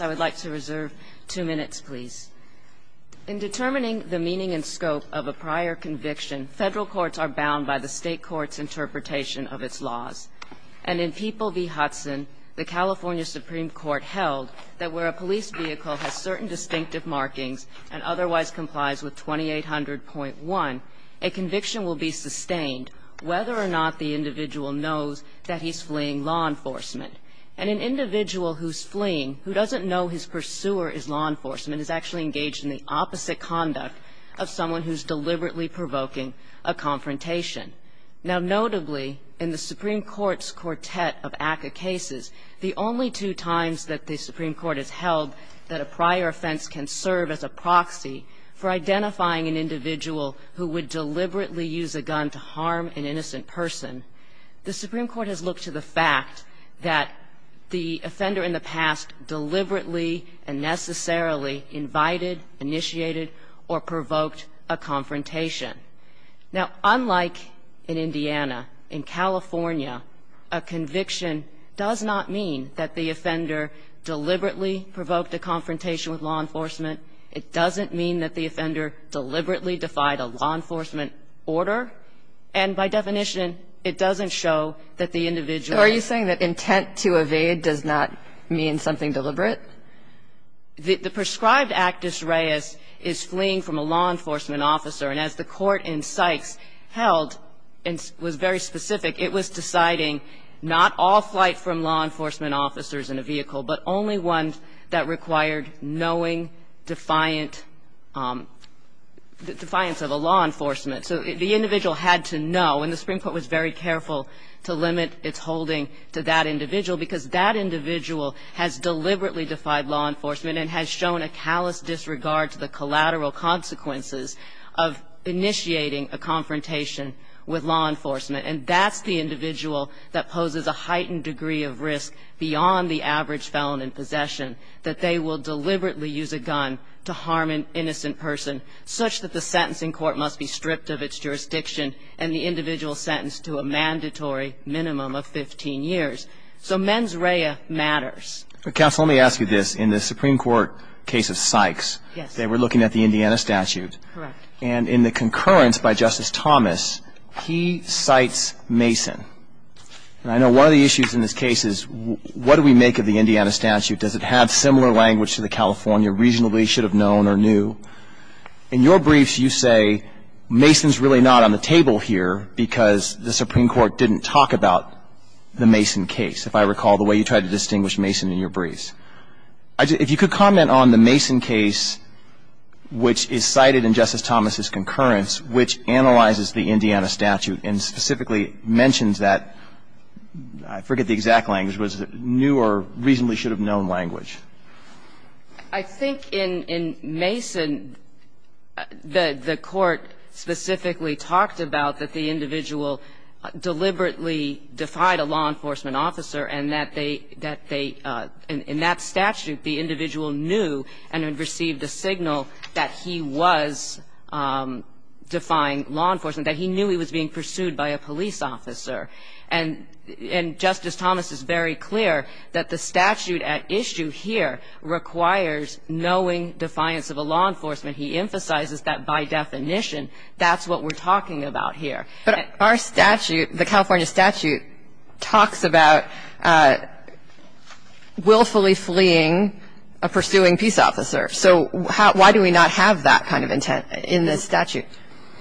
I would like to reserve two minutes please. In determining the meaning and scope of a prior conviction, federal courts are bound by the state court's interpretation of its laws. And in People v. Hudson, the California Supreme Court held that where a police vehicle has certain distinctive markings and otherwise complies with 2800.1, a conviction will be sustained whether or not the individual knows that he's fleeing a crime. And an individual who's fleeing, who doesn't know his pursuer is law enforcement, is actually engaged in the opposite conduct of someone who's deliberately provoking a confrontation. Now, notably, in the Supreme Court's quartet of ACCA cases, the only two times that the Supreme Court has held that a prior offense can serve as a proxy for identifying an individual who would deliberately use a gun to harm an innocent person, the Supreme Court has looked to the fact that the offender in the past deliberately and necessarily invited, initiated, or provoked a confrontation. Now, unlike in Indiana, in California, a conviction does not mean that the offender deliberately provoked a confrontation with law enforcement. It doesn't mean that the offender deliberately defied a law enforcement order. And by definition, it doesn't show that the individual ---- Kagan. So are you saying that intent to evade does not mean something deliberate? The prescribed act dis reis is fleeing from a law enforcement officer. And as the Court in Sykes held and was very specific, it was deciding not all flight from law enforcement officers in a vehicle, but only ones that required knowing defiant ---- defiance of a law enforcement. So the individual had to know. And the Supreme Court was very careful to limit its holding to that individual because that individual has deliberately defied law enforcement and has shown a callous disregard to the collateral consequences of initiating a confrontation with law enforcement. And that's the individual that poses a heightened degree of risk beyond the average felon in possession, that they will deliberately use a gun to harm an innocent person such that the sentencing court must be stripped of its jurisdiction and the individual sentenced to a mandatory minimum of 15 years. So mens rea matters. Counsel, let me ask you this. In the Supreme Court case of Sykes, they were looking at the Indiana statute. Correct. And in the concurrence by Justice Thomas, he cites Mason. And I know one of the issues in this case is what do we make of the Indiana statute? Does it have similar language to the California, reasonably should have known or knew? In your briefs, you say Mason's really not on the table here because the Supreme Court didn't talk about the Mason case, if I recall, the way you tried to distinguish Mason in your briefs. If you could comment on the Mason case, which is cited in Justice Thomas's concurrence, which analyzes the Indiana statute and specifically mentions that, I forget the exact language, but it's a new or reasonably should have known language. I think in Mason, the Court specifically talked about that the individual deliberately defied a law enforcement officer and that they, in that statute, the individual knew and had received a signal that he was defying law enforcement, that he knew he was being pursued by a police officer. And Justice Thomas is very clear that the statute at issue here requires knowing defiance of a law enforcement. He emphasizes that, by definition, that's what we're talking about here. But our statute, the California statute, talks about willfully fleeing a pursuing peace officer, so why do we not have that kind of intent in this statute?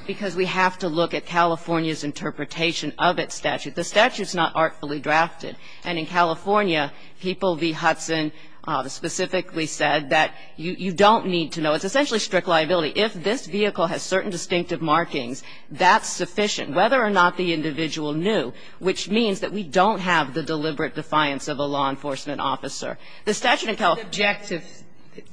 Because we have to look at California's interpretation of its statute. The statute's not artfully drafted. And in California, People v. Hudson specifically said that you don't need to know. It's essentially strict liability. If this vehicle has certain distinctive markings, that's sufficient, whether or not the individual knew, which means that we don't have the deliberate defiance of a law enforcement officer. The statute in California. It's an objective.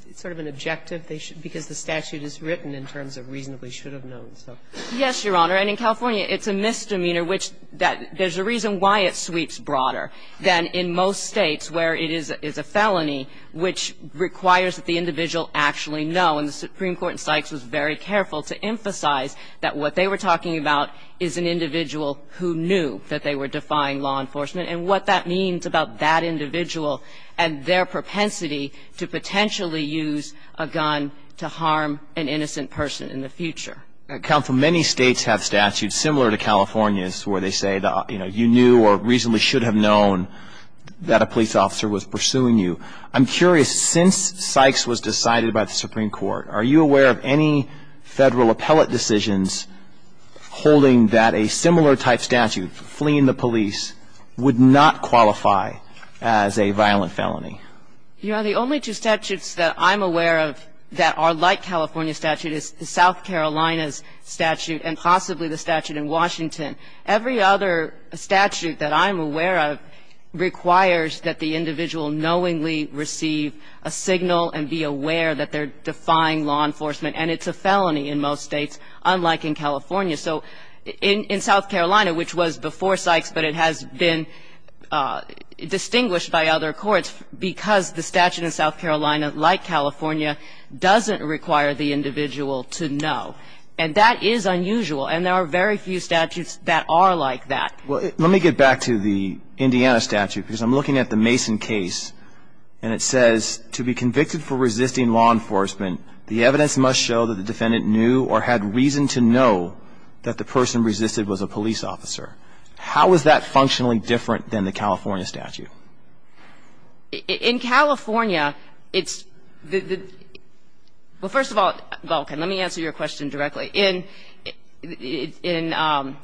It's sort of an objective because the statute is written in terms of reasonably should have known, so. Yes, Your Honor. And in California, it's a misdemeanor, which there's a reason why it sweeps broader than in most States where it is a felony which requires that the individual actually know. And the Supreme Court in Sykes was very careful to emphasize that what they were talking about is an individual who knew that they were defying law enforcement and what that means about that individual and their propensity to potentially use a gun to harm an innocent person in the future. Counsel, many States have statutes similar to California's where they say, you know, you knew or reasonably should have known that a police officer was pursuing I'm curious, since Sykes was decided by the Supreme Court, are you aware of any Federal appellate decisions holding that a similar type statute, fleeing the police, would not qualify as a violent felony? Your Honor, the only two statutes that I'm aware of that are like California's statute is South Carolina's statute and possibly the statute in Washington. Every other statute that I'm aware of requires that the individual knowingly receive a signal and be aware that they're defying law enforcement, and it's a felony in most States, unlike in California. So in South Carolina, which was before Sykes, but it has been distinguished by other courts because the statute in South Carolina, like California, doesn't require the individual to know. And that is unusual. And there are very few statutes that are like that. Well, let me get back to the Indiana statute because I'm looking at the Mason case and it says, to be convicted for resisting law enforcement, the evidence must show that the defendant knew or had reason to know that the person resisted was a police officer. How is that functionally different than the California statute? In California, it's the – well, first of all, Vulcan, let me answer your question directly. In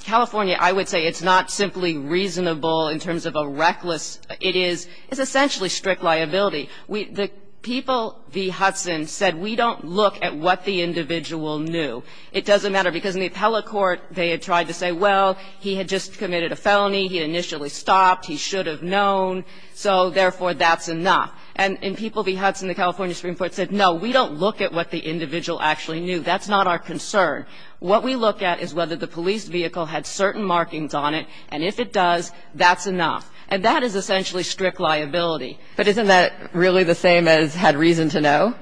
California, I would say it's not simply reasonable in terms of a reckless – it is essentially strict liability. The people v. Hudson said, we don't look at what the individual knew. It doesn't matter because in the appellate court, they had tried to say, well, he had just committed a felony, he initially stopped, he should have known, so therefore that's enough. And in people v. Hudson, the California Supreme Court said, no, we don't look at what the individual actually knew. That's not our concern. What we look at is whether the police vehicle had certain markings on it, and if it does, that's enough. And that is essentially strict liability. But isn't that really the same as had reason to know?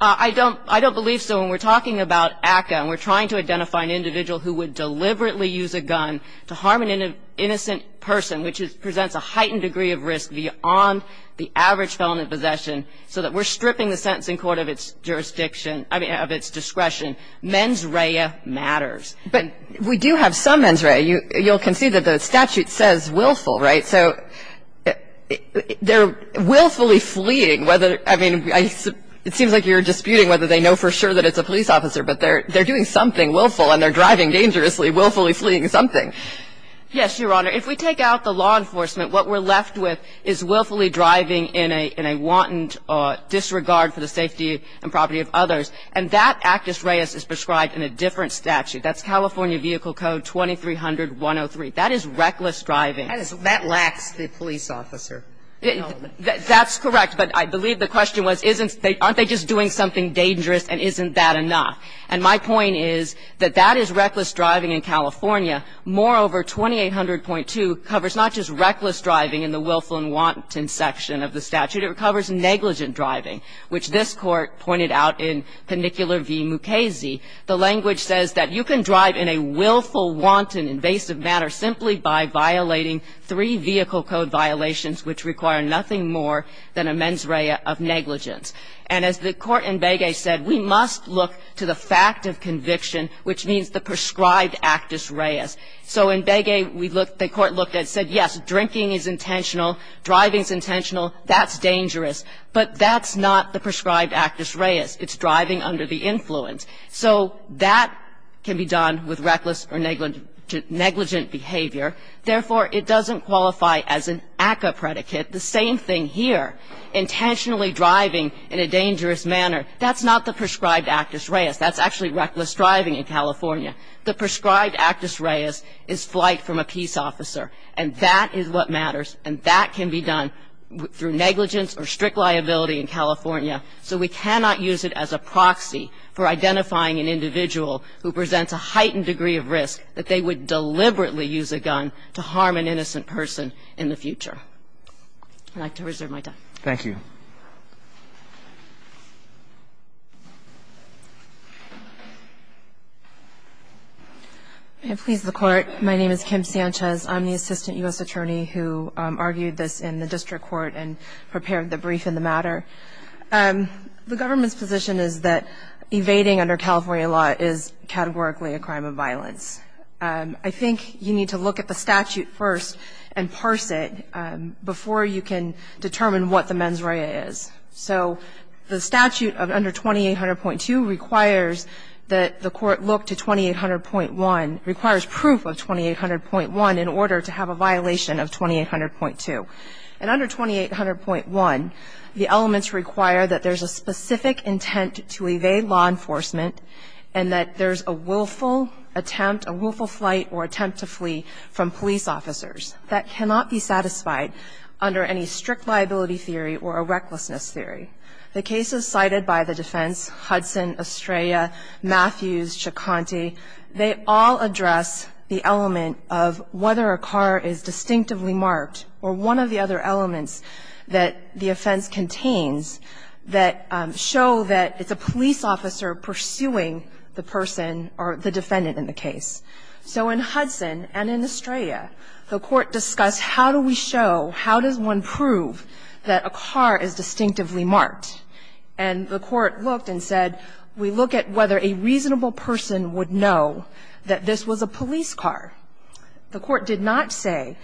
I don't believe so. When we're talking about ACCA and we're trying to identify an individual who would deliberately use a gun to harm an innocent person, which presents a heightened degree of risk beyond the average felony possession, so that we're stripping the sentencing court of its jurisdiction, I mean, of its discretion, mens rea matters. But we do have some mens rea. You'll concede that the statute says willful, right? So they're willfully fleeing whether, I mean, it seems like you're disputing whether they know for sure that it's a police officer, but they're doing something willful and they're driving dangerously, willfully fleeing something. Yes, Your Honor. If we take out the law enforcement, what we're left with is willfully driving in a wanton disregard for the safety and property of others. And that Actus Reis is prescribed in a different statute. That's California Vehicle Code 2300-103. That is reckless driving. That lacks the police officer. That's correct. But I believe the question was aren't they just doing something dangerous and isn't that enough? And my point is that that is reckless driving in California. Moreover, 2800.2 covers not just reckless driving in the willful and wanton section of the statute. It covers negligent driving, which this Court pointed out in Penicular v. Mukasey. The language says that you can drive in a willful, wanton, invasive manner simply by violating three vehicle code violations which require nothing more than a mens rea of negligence. And as the Court in Begay said, we must look to the fact of conviction, which means the prescribed Actus Reis. So in Begay, we looked, the Court looked and said, yes, drinking is intentional, driving is intentional. That's dangerous. But that's not the prescribed Actus Reis. It's driving under the influence. So that can be done with reckless or negligent behavior. Therefore, it doesn't qualify as an ACCA predicate. The same thing here. Intentionally driving in a dangerous manner, that's not the prescribed Actus Reis. That's actually reckless driving in California. The prescribed Actus Reis is flight from a peace officer, and that is what can be done through negligence or strict liability in California. So we cannot use it as a proxy for identifying an individual who presents a heightened degree of risk that they would deliberately use a gun to harm an innocent person in the future. I'd like to reserve my time. Roberts. Thank you. Please, the Court. My name is Kim Sanchez. I'm the Assistant U.S. Attorney who argued this in the District Court and prepared the brief in the matter. The government's position is that evading under California law is categorically a crime of violence. I think you need to look at the statute first and parse it before you can determine what the mens rea is. So the statute of under 2800.2 requires that the Court look to 2800.1, requires proof of 2800.1 in order to have a violation of 2800.2. And under 2800.1, the elements require that there's a specific intent to evade law enforcement and that there's a willful attempt, a willful flight or attempt to flee from police officers. That cannot be satisfied under any strict liability theory or a recklessness theory. The cases cited by the defense, Hudson, Estrella, Matthews, Chaconti, they all address the element of whether a car is distinctively marked or one of the other elements that the offense contains that show that it's a police officer pursuing the person or the defendant in the case. So in Hudson and in Estrella, the Court discussed how do we show, how does one prove that a car is distinctively marked. And the Court looked and said, we look at whether a reasonable person would know that this was a police car. The Court did not say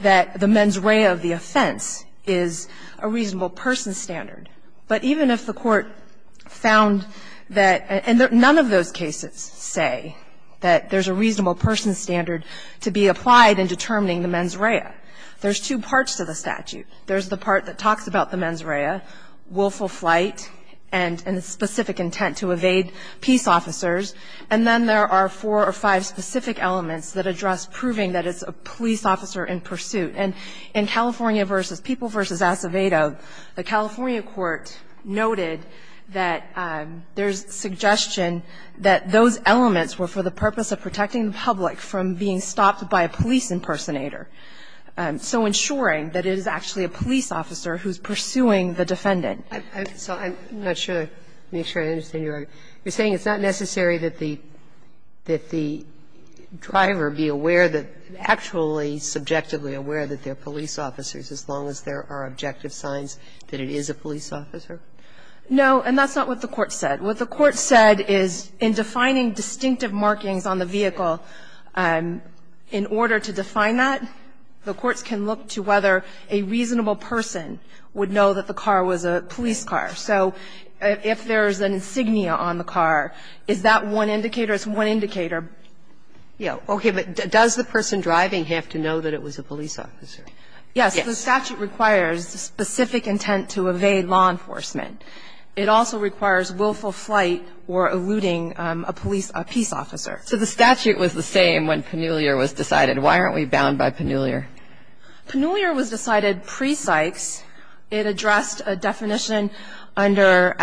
that the mens rea of the offense is a reasonable person standard. But even if the Court found that and none of those cases say that there's a reasonable person standard to be applied in determining the mens rea, there's two parts to the statute. There's the part that talks about the mens rea, willful flight, and a specific intent to evade peace officers. And then there are four or five specific elements that address proving that it's a police officer in pursuit. And in California v. People v. Acevedo, the California court noted that there's suggestion that those elements were for the purpose of protecting the public from being stopped by a police impersonator, so ensuring that it is actually a police officer who's pursuing the defendant. Sotomayor, you're saying it's not necessary that the driver be aware that actually subjectively aware that they're police officers as long as there are objective signs that it is a police officer? No, and that's not what the Court said. What the Court said is in defining distinctive markings on the vehicle, in order to define that, the courts can look to whether a reasonable person would know that the car was a police car. So if there's an insignia on the car, is that one indicator? It's one indicator. Yeah. Okay. But does the person driving have to know that it was a police officer? Yes. The statute requires specific intent to evade law enforcement. It also requires willful flight or eluding a police or peace officer. So the statute was the same when Pannulia was decided. Why aren't we bound by Pannulia? Pannulia was decided pre-Sykes. It addressed a definition under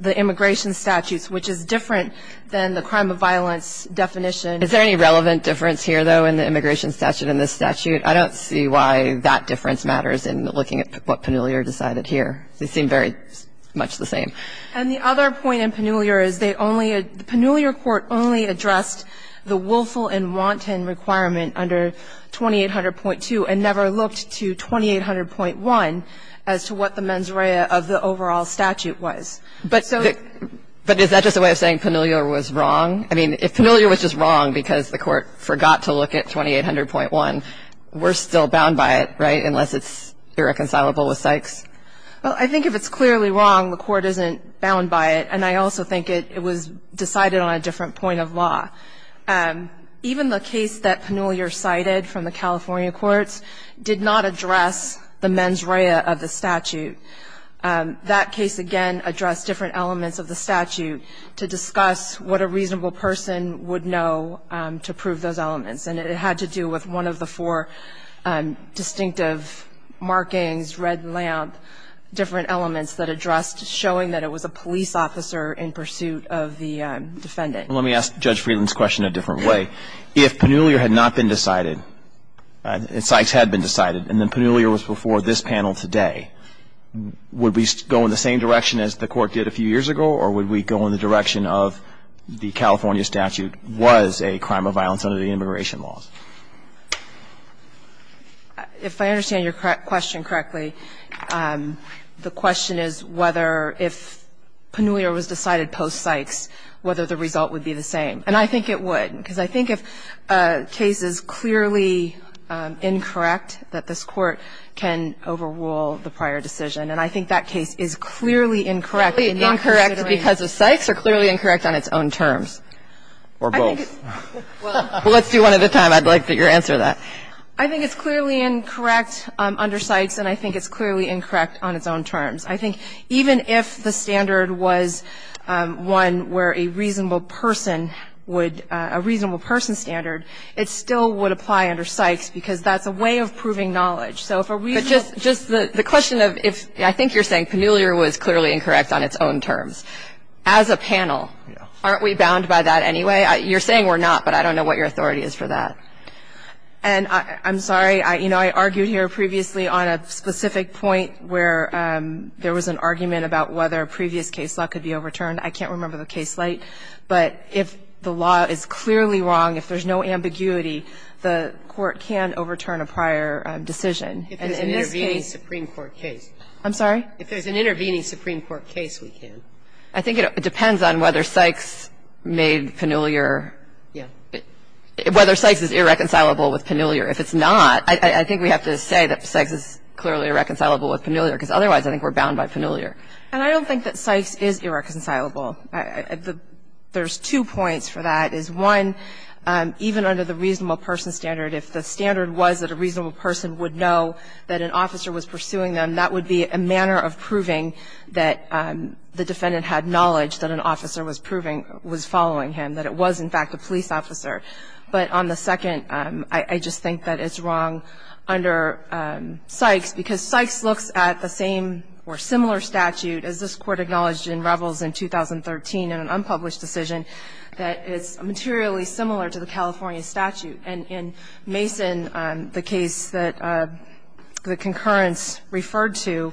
the immigration statutes, which is different than the crime of violence definition. Is there any relevant difference here, though, in the immigration statute and this statute? I don't see why that difference matters in looking at what Pannulia decided here. They seem very much the same. And the other point in Pannulia is they only had the Pannulia court only addressed the willful and wanton requirement under 2800.2 and never looked to 2800.1. As to what the mens rea of the overall statute was. But so the But is that just a way of saying Pannulia was wrong? I mean, if Pannulia was just wrong because the Court forgot to look at 2800.1, we're still bound by it, right, unless it's irreconcilable with Sykes? Well, I think if it's clearly wrong, the Court isn't bound by it. And I also think it was decided on a different point of law. Even the case that Pannulia cited from the California courts did not address the mens rea of the statute. That case, again, addressed different elements of the statute to discuss what a reasonable person would know to prove those elements. And it had to do with one of the four distinctive markings, red lamp, different elements that addressed showing that it was a police officer in pursuit of the defendant. Let me ask Judge Friedland's question a different way. If Pannulia had not been decided, and Sykes had been decided, and then Pannulia was before this panel today, would we go in the same direction as the Court did a few years ago, or would we go in the direction of the California statute was a crime of violence under the immigration laws? If I understand your question correctly, the question is whether if Pannulia was decided post-Sykes, whether the result would be the same. And I think it would, because I think if a case is clearly incorrect that this can overrule the prior decision. And I think that case is clearly incorrect in not considering the statute. Kagan, because of Sykes, or clearly incorrect on its own terms? Or both. Well, let's do one at a time. I'd like for you to answer that. I think it's clearly incorrect under Sykes, and I think it's clearly incorrect on its own terms. I think even if the standard was one where a reasonable person would – a reasonable person standard, it still would apply under Sykes, because that's a way of proving knowledge. But just the question of if – I think you're saying Pannulia was clearly incorrect on its own terms. As a panel, aren't we bound by that anyway? You're saying we're not, but I don't know what your authority is for that. And I'm sorry. You know, I argued here previously on a specific point where there was an argument about whether a previous case law could be overturned. I can't remember the case light. But if the law is clearly wrong, if there's no ambiguity, the court can overturn a prior decision. And in this case – If there's an intervening Supreme Court case. I'm sorry? If there's an intervening Supreme Court case, we can. I think it depends on whether Sykes made Pannulia – whether Sykes is irreconcilable with Pannulia. If it's not, I think we have to say that Sykes is clearly irreconcilable with Pannulia, because otherwise I think we're bound by Pannulia. And I don't think that Sykes is irreconcilable. There's two points for that, is one, even under the reasonable person standard, if the standard was that a reasonable person would know that an officer was pursuing them, that would be a manner of proving that the defendant had knowledge that an officer was proving – was following him, that it was, in fact, a police officer. But on the second, I just think that it's wrong under Sykes, because Sykes looks at the same or similar statute, as this Court acknowledged in Revels in 2013 in an unpublished decision, that it's materially similar to the California statute. And in Mason, the case that the concurrence referred to,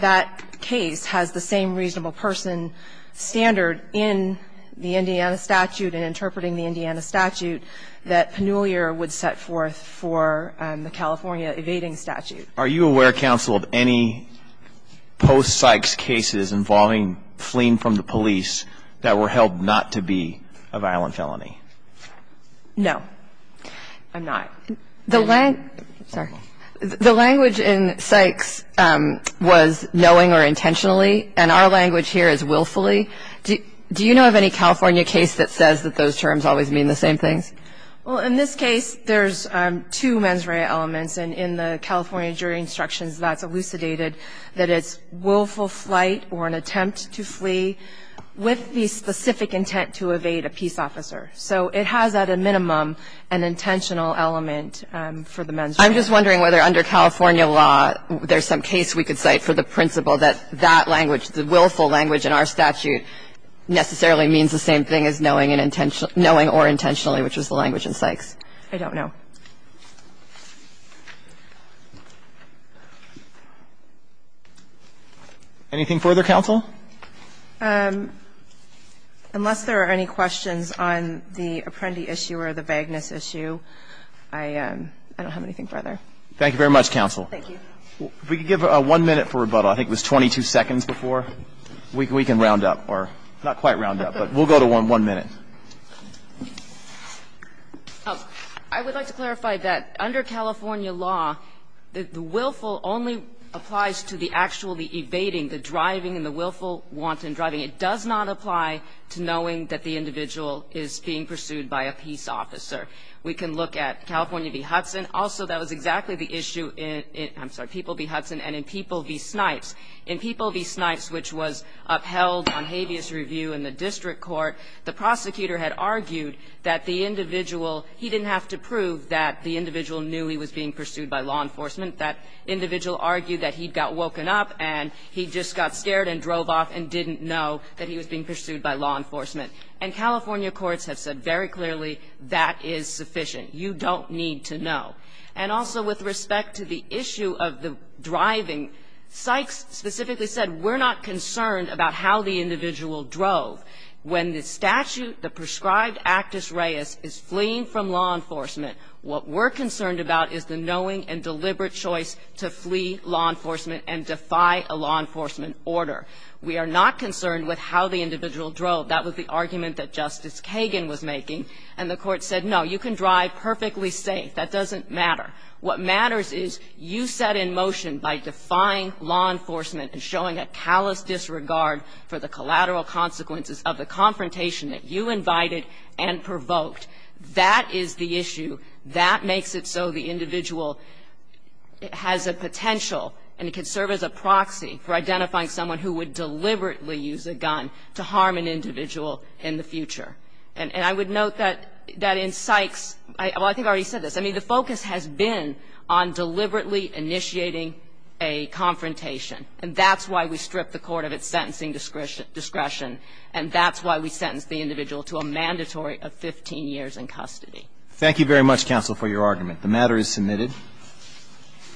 that case has the same reasonable person standard in the Indiana statute and interpreting the Indiana statute that Pannulia would set forth for the California evading statute. Are you aware, counsel, of any post-Sykes cases involving fleeing from the police that were held not to be a violent felony? No, I'm not. The language in Sykes was knowing or intentionally, and our language here is willfully. Do you know of any California case that says that those terms always mean the same things? Well, in this case, there's two mens rea elements, and in the California jury instructions, that's elucidated that it's willful flight or an attempt to flee with the specific intent to evade a peace officer. So it has, at a minimum, an intentional element for the mens rea. I'm just wondering whether under California law there's some case we could cite for the principle that that language, the willful language in our statute, necessarily means the same thing as knowing or intentionally, which is the language in Sykes. Anything further, counsel? Unless there are any questions on the Apprendi issue or the Bagness issue, I don't have anything further. Thank you very much, counsel. Thank you. If we could give one minute for rebuttal. I think it was 22 seconds before. We can round up or not quite round up, but we'll go to one minute. I would like to clarify that under California law, the willful only applies to the actually evading, the driving and the willful wanton driving. It does not apply to knowing that the individual is being pursued by a peace officer. We can look at California v. Hudson. Also, that was exactly the issue in, I'm sorry, People v. Hudson and in People v. Snipes. In People v. Snipes, which was upheld on habeas review in the district court, the prosecutor had argued that the individual, he didn't have to prove that the individual knew he was being pursued by law enforcement. That individual argued that he'd got woken up and he just got scared and drove off and didn't know that he was being pursued by law enforcement. And California courts have said very clearly that is sufficient. You don't need to know. And also with respect to the issue of the driving, Sykes specifically said we're not concerned about how the individual drove. When the statute, the prescribed actus reus, is fleeing from law enforcement, what we're concerned about is the knowing and deliberate choice to flee law enforcement and defy a law enforcement order. We are not concerned with how the individual drove. That was the argument that Justice Kagan was making. And the Court said, no, you can drive perfectly safe. That doesn't matter. What matters is you set in motion by defying law enforcement and showing a callous disregard for the collateral consequences of the confrontation that you invited and provoked. That is the issue. That makes it so the individual has a potential and it can serve as a proxy for identifying someone who would deliberately use a gun to harm an individual in the future. And I would note that in Sykes, well, I think I already said this, I mean, the focus has been on deliberately initiating a confrontation. And that's why we stripped the court of its sentencing discretion, and that's why we sentenced the individual to a mandatory of 15 years in custody. Thank you very much, counsel, for your argument. The matter is submitted.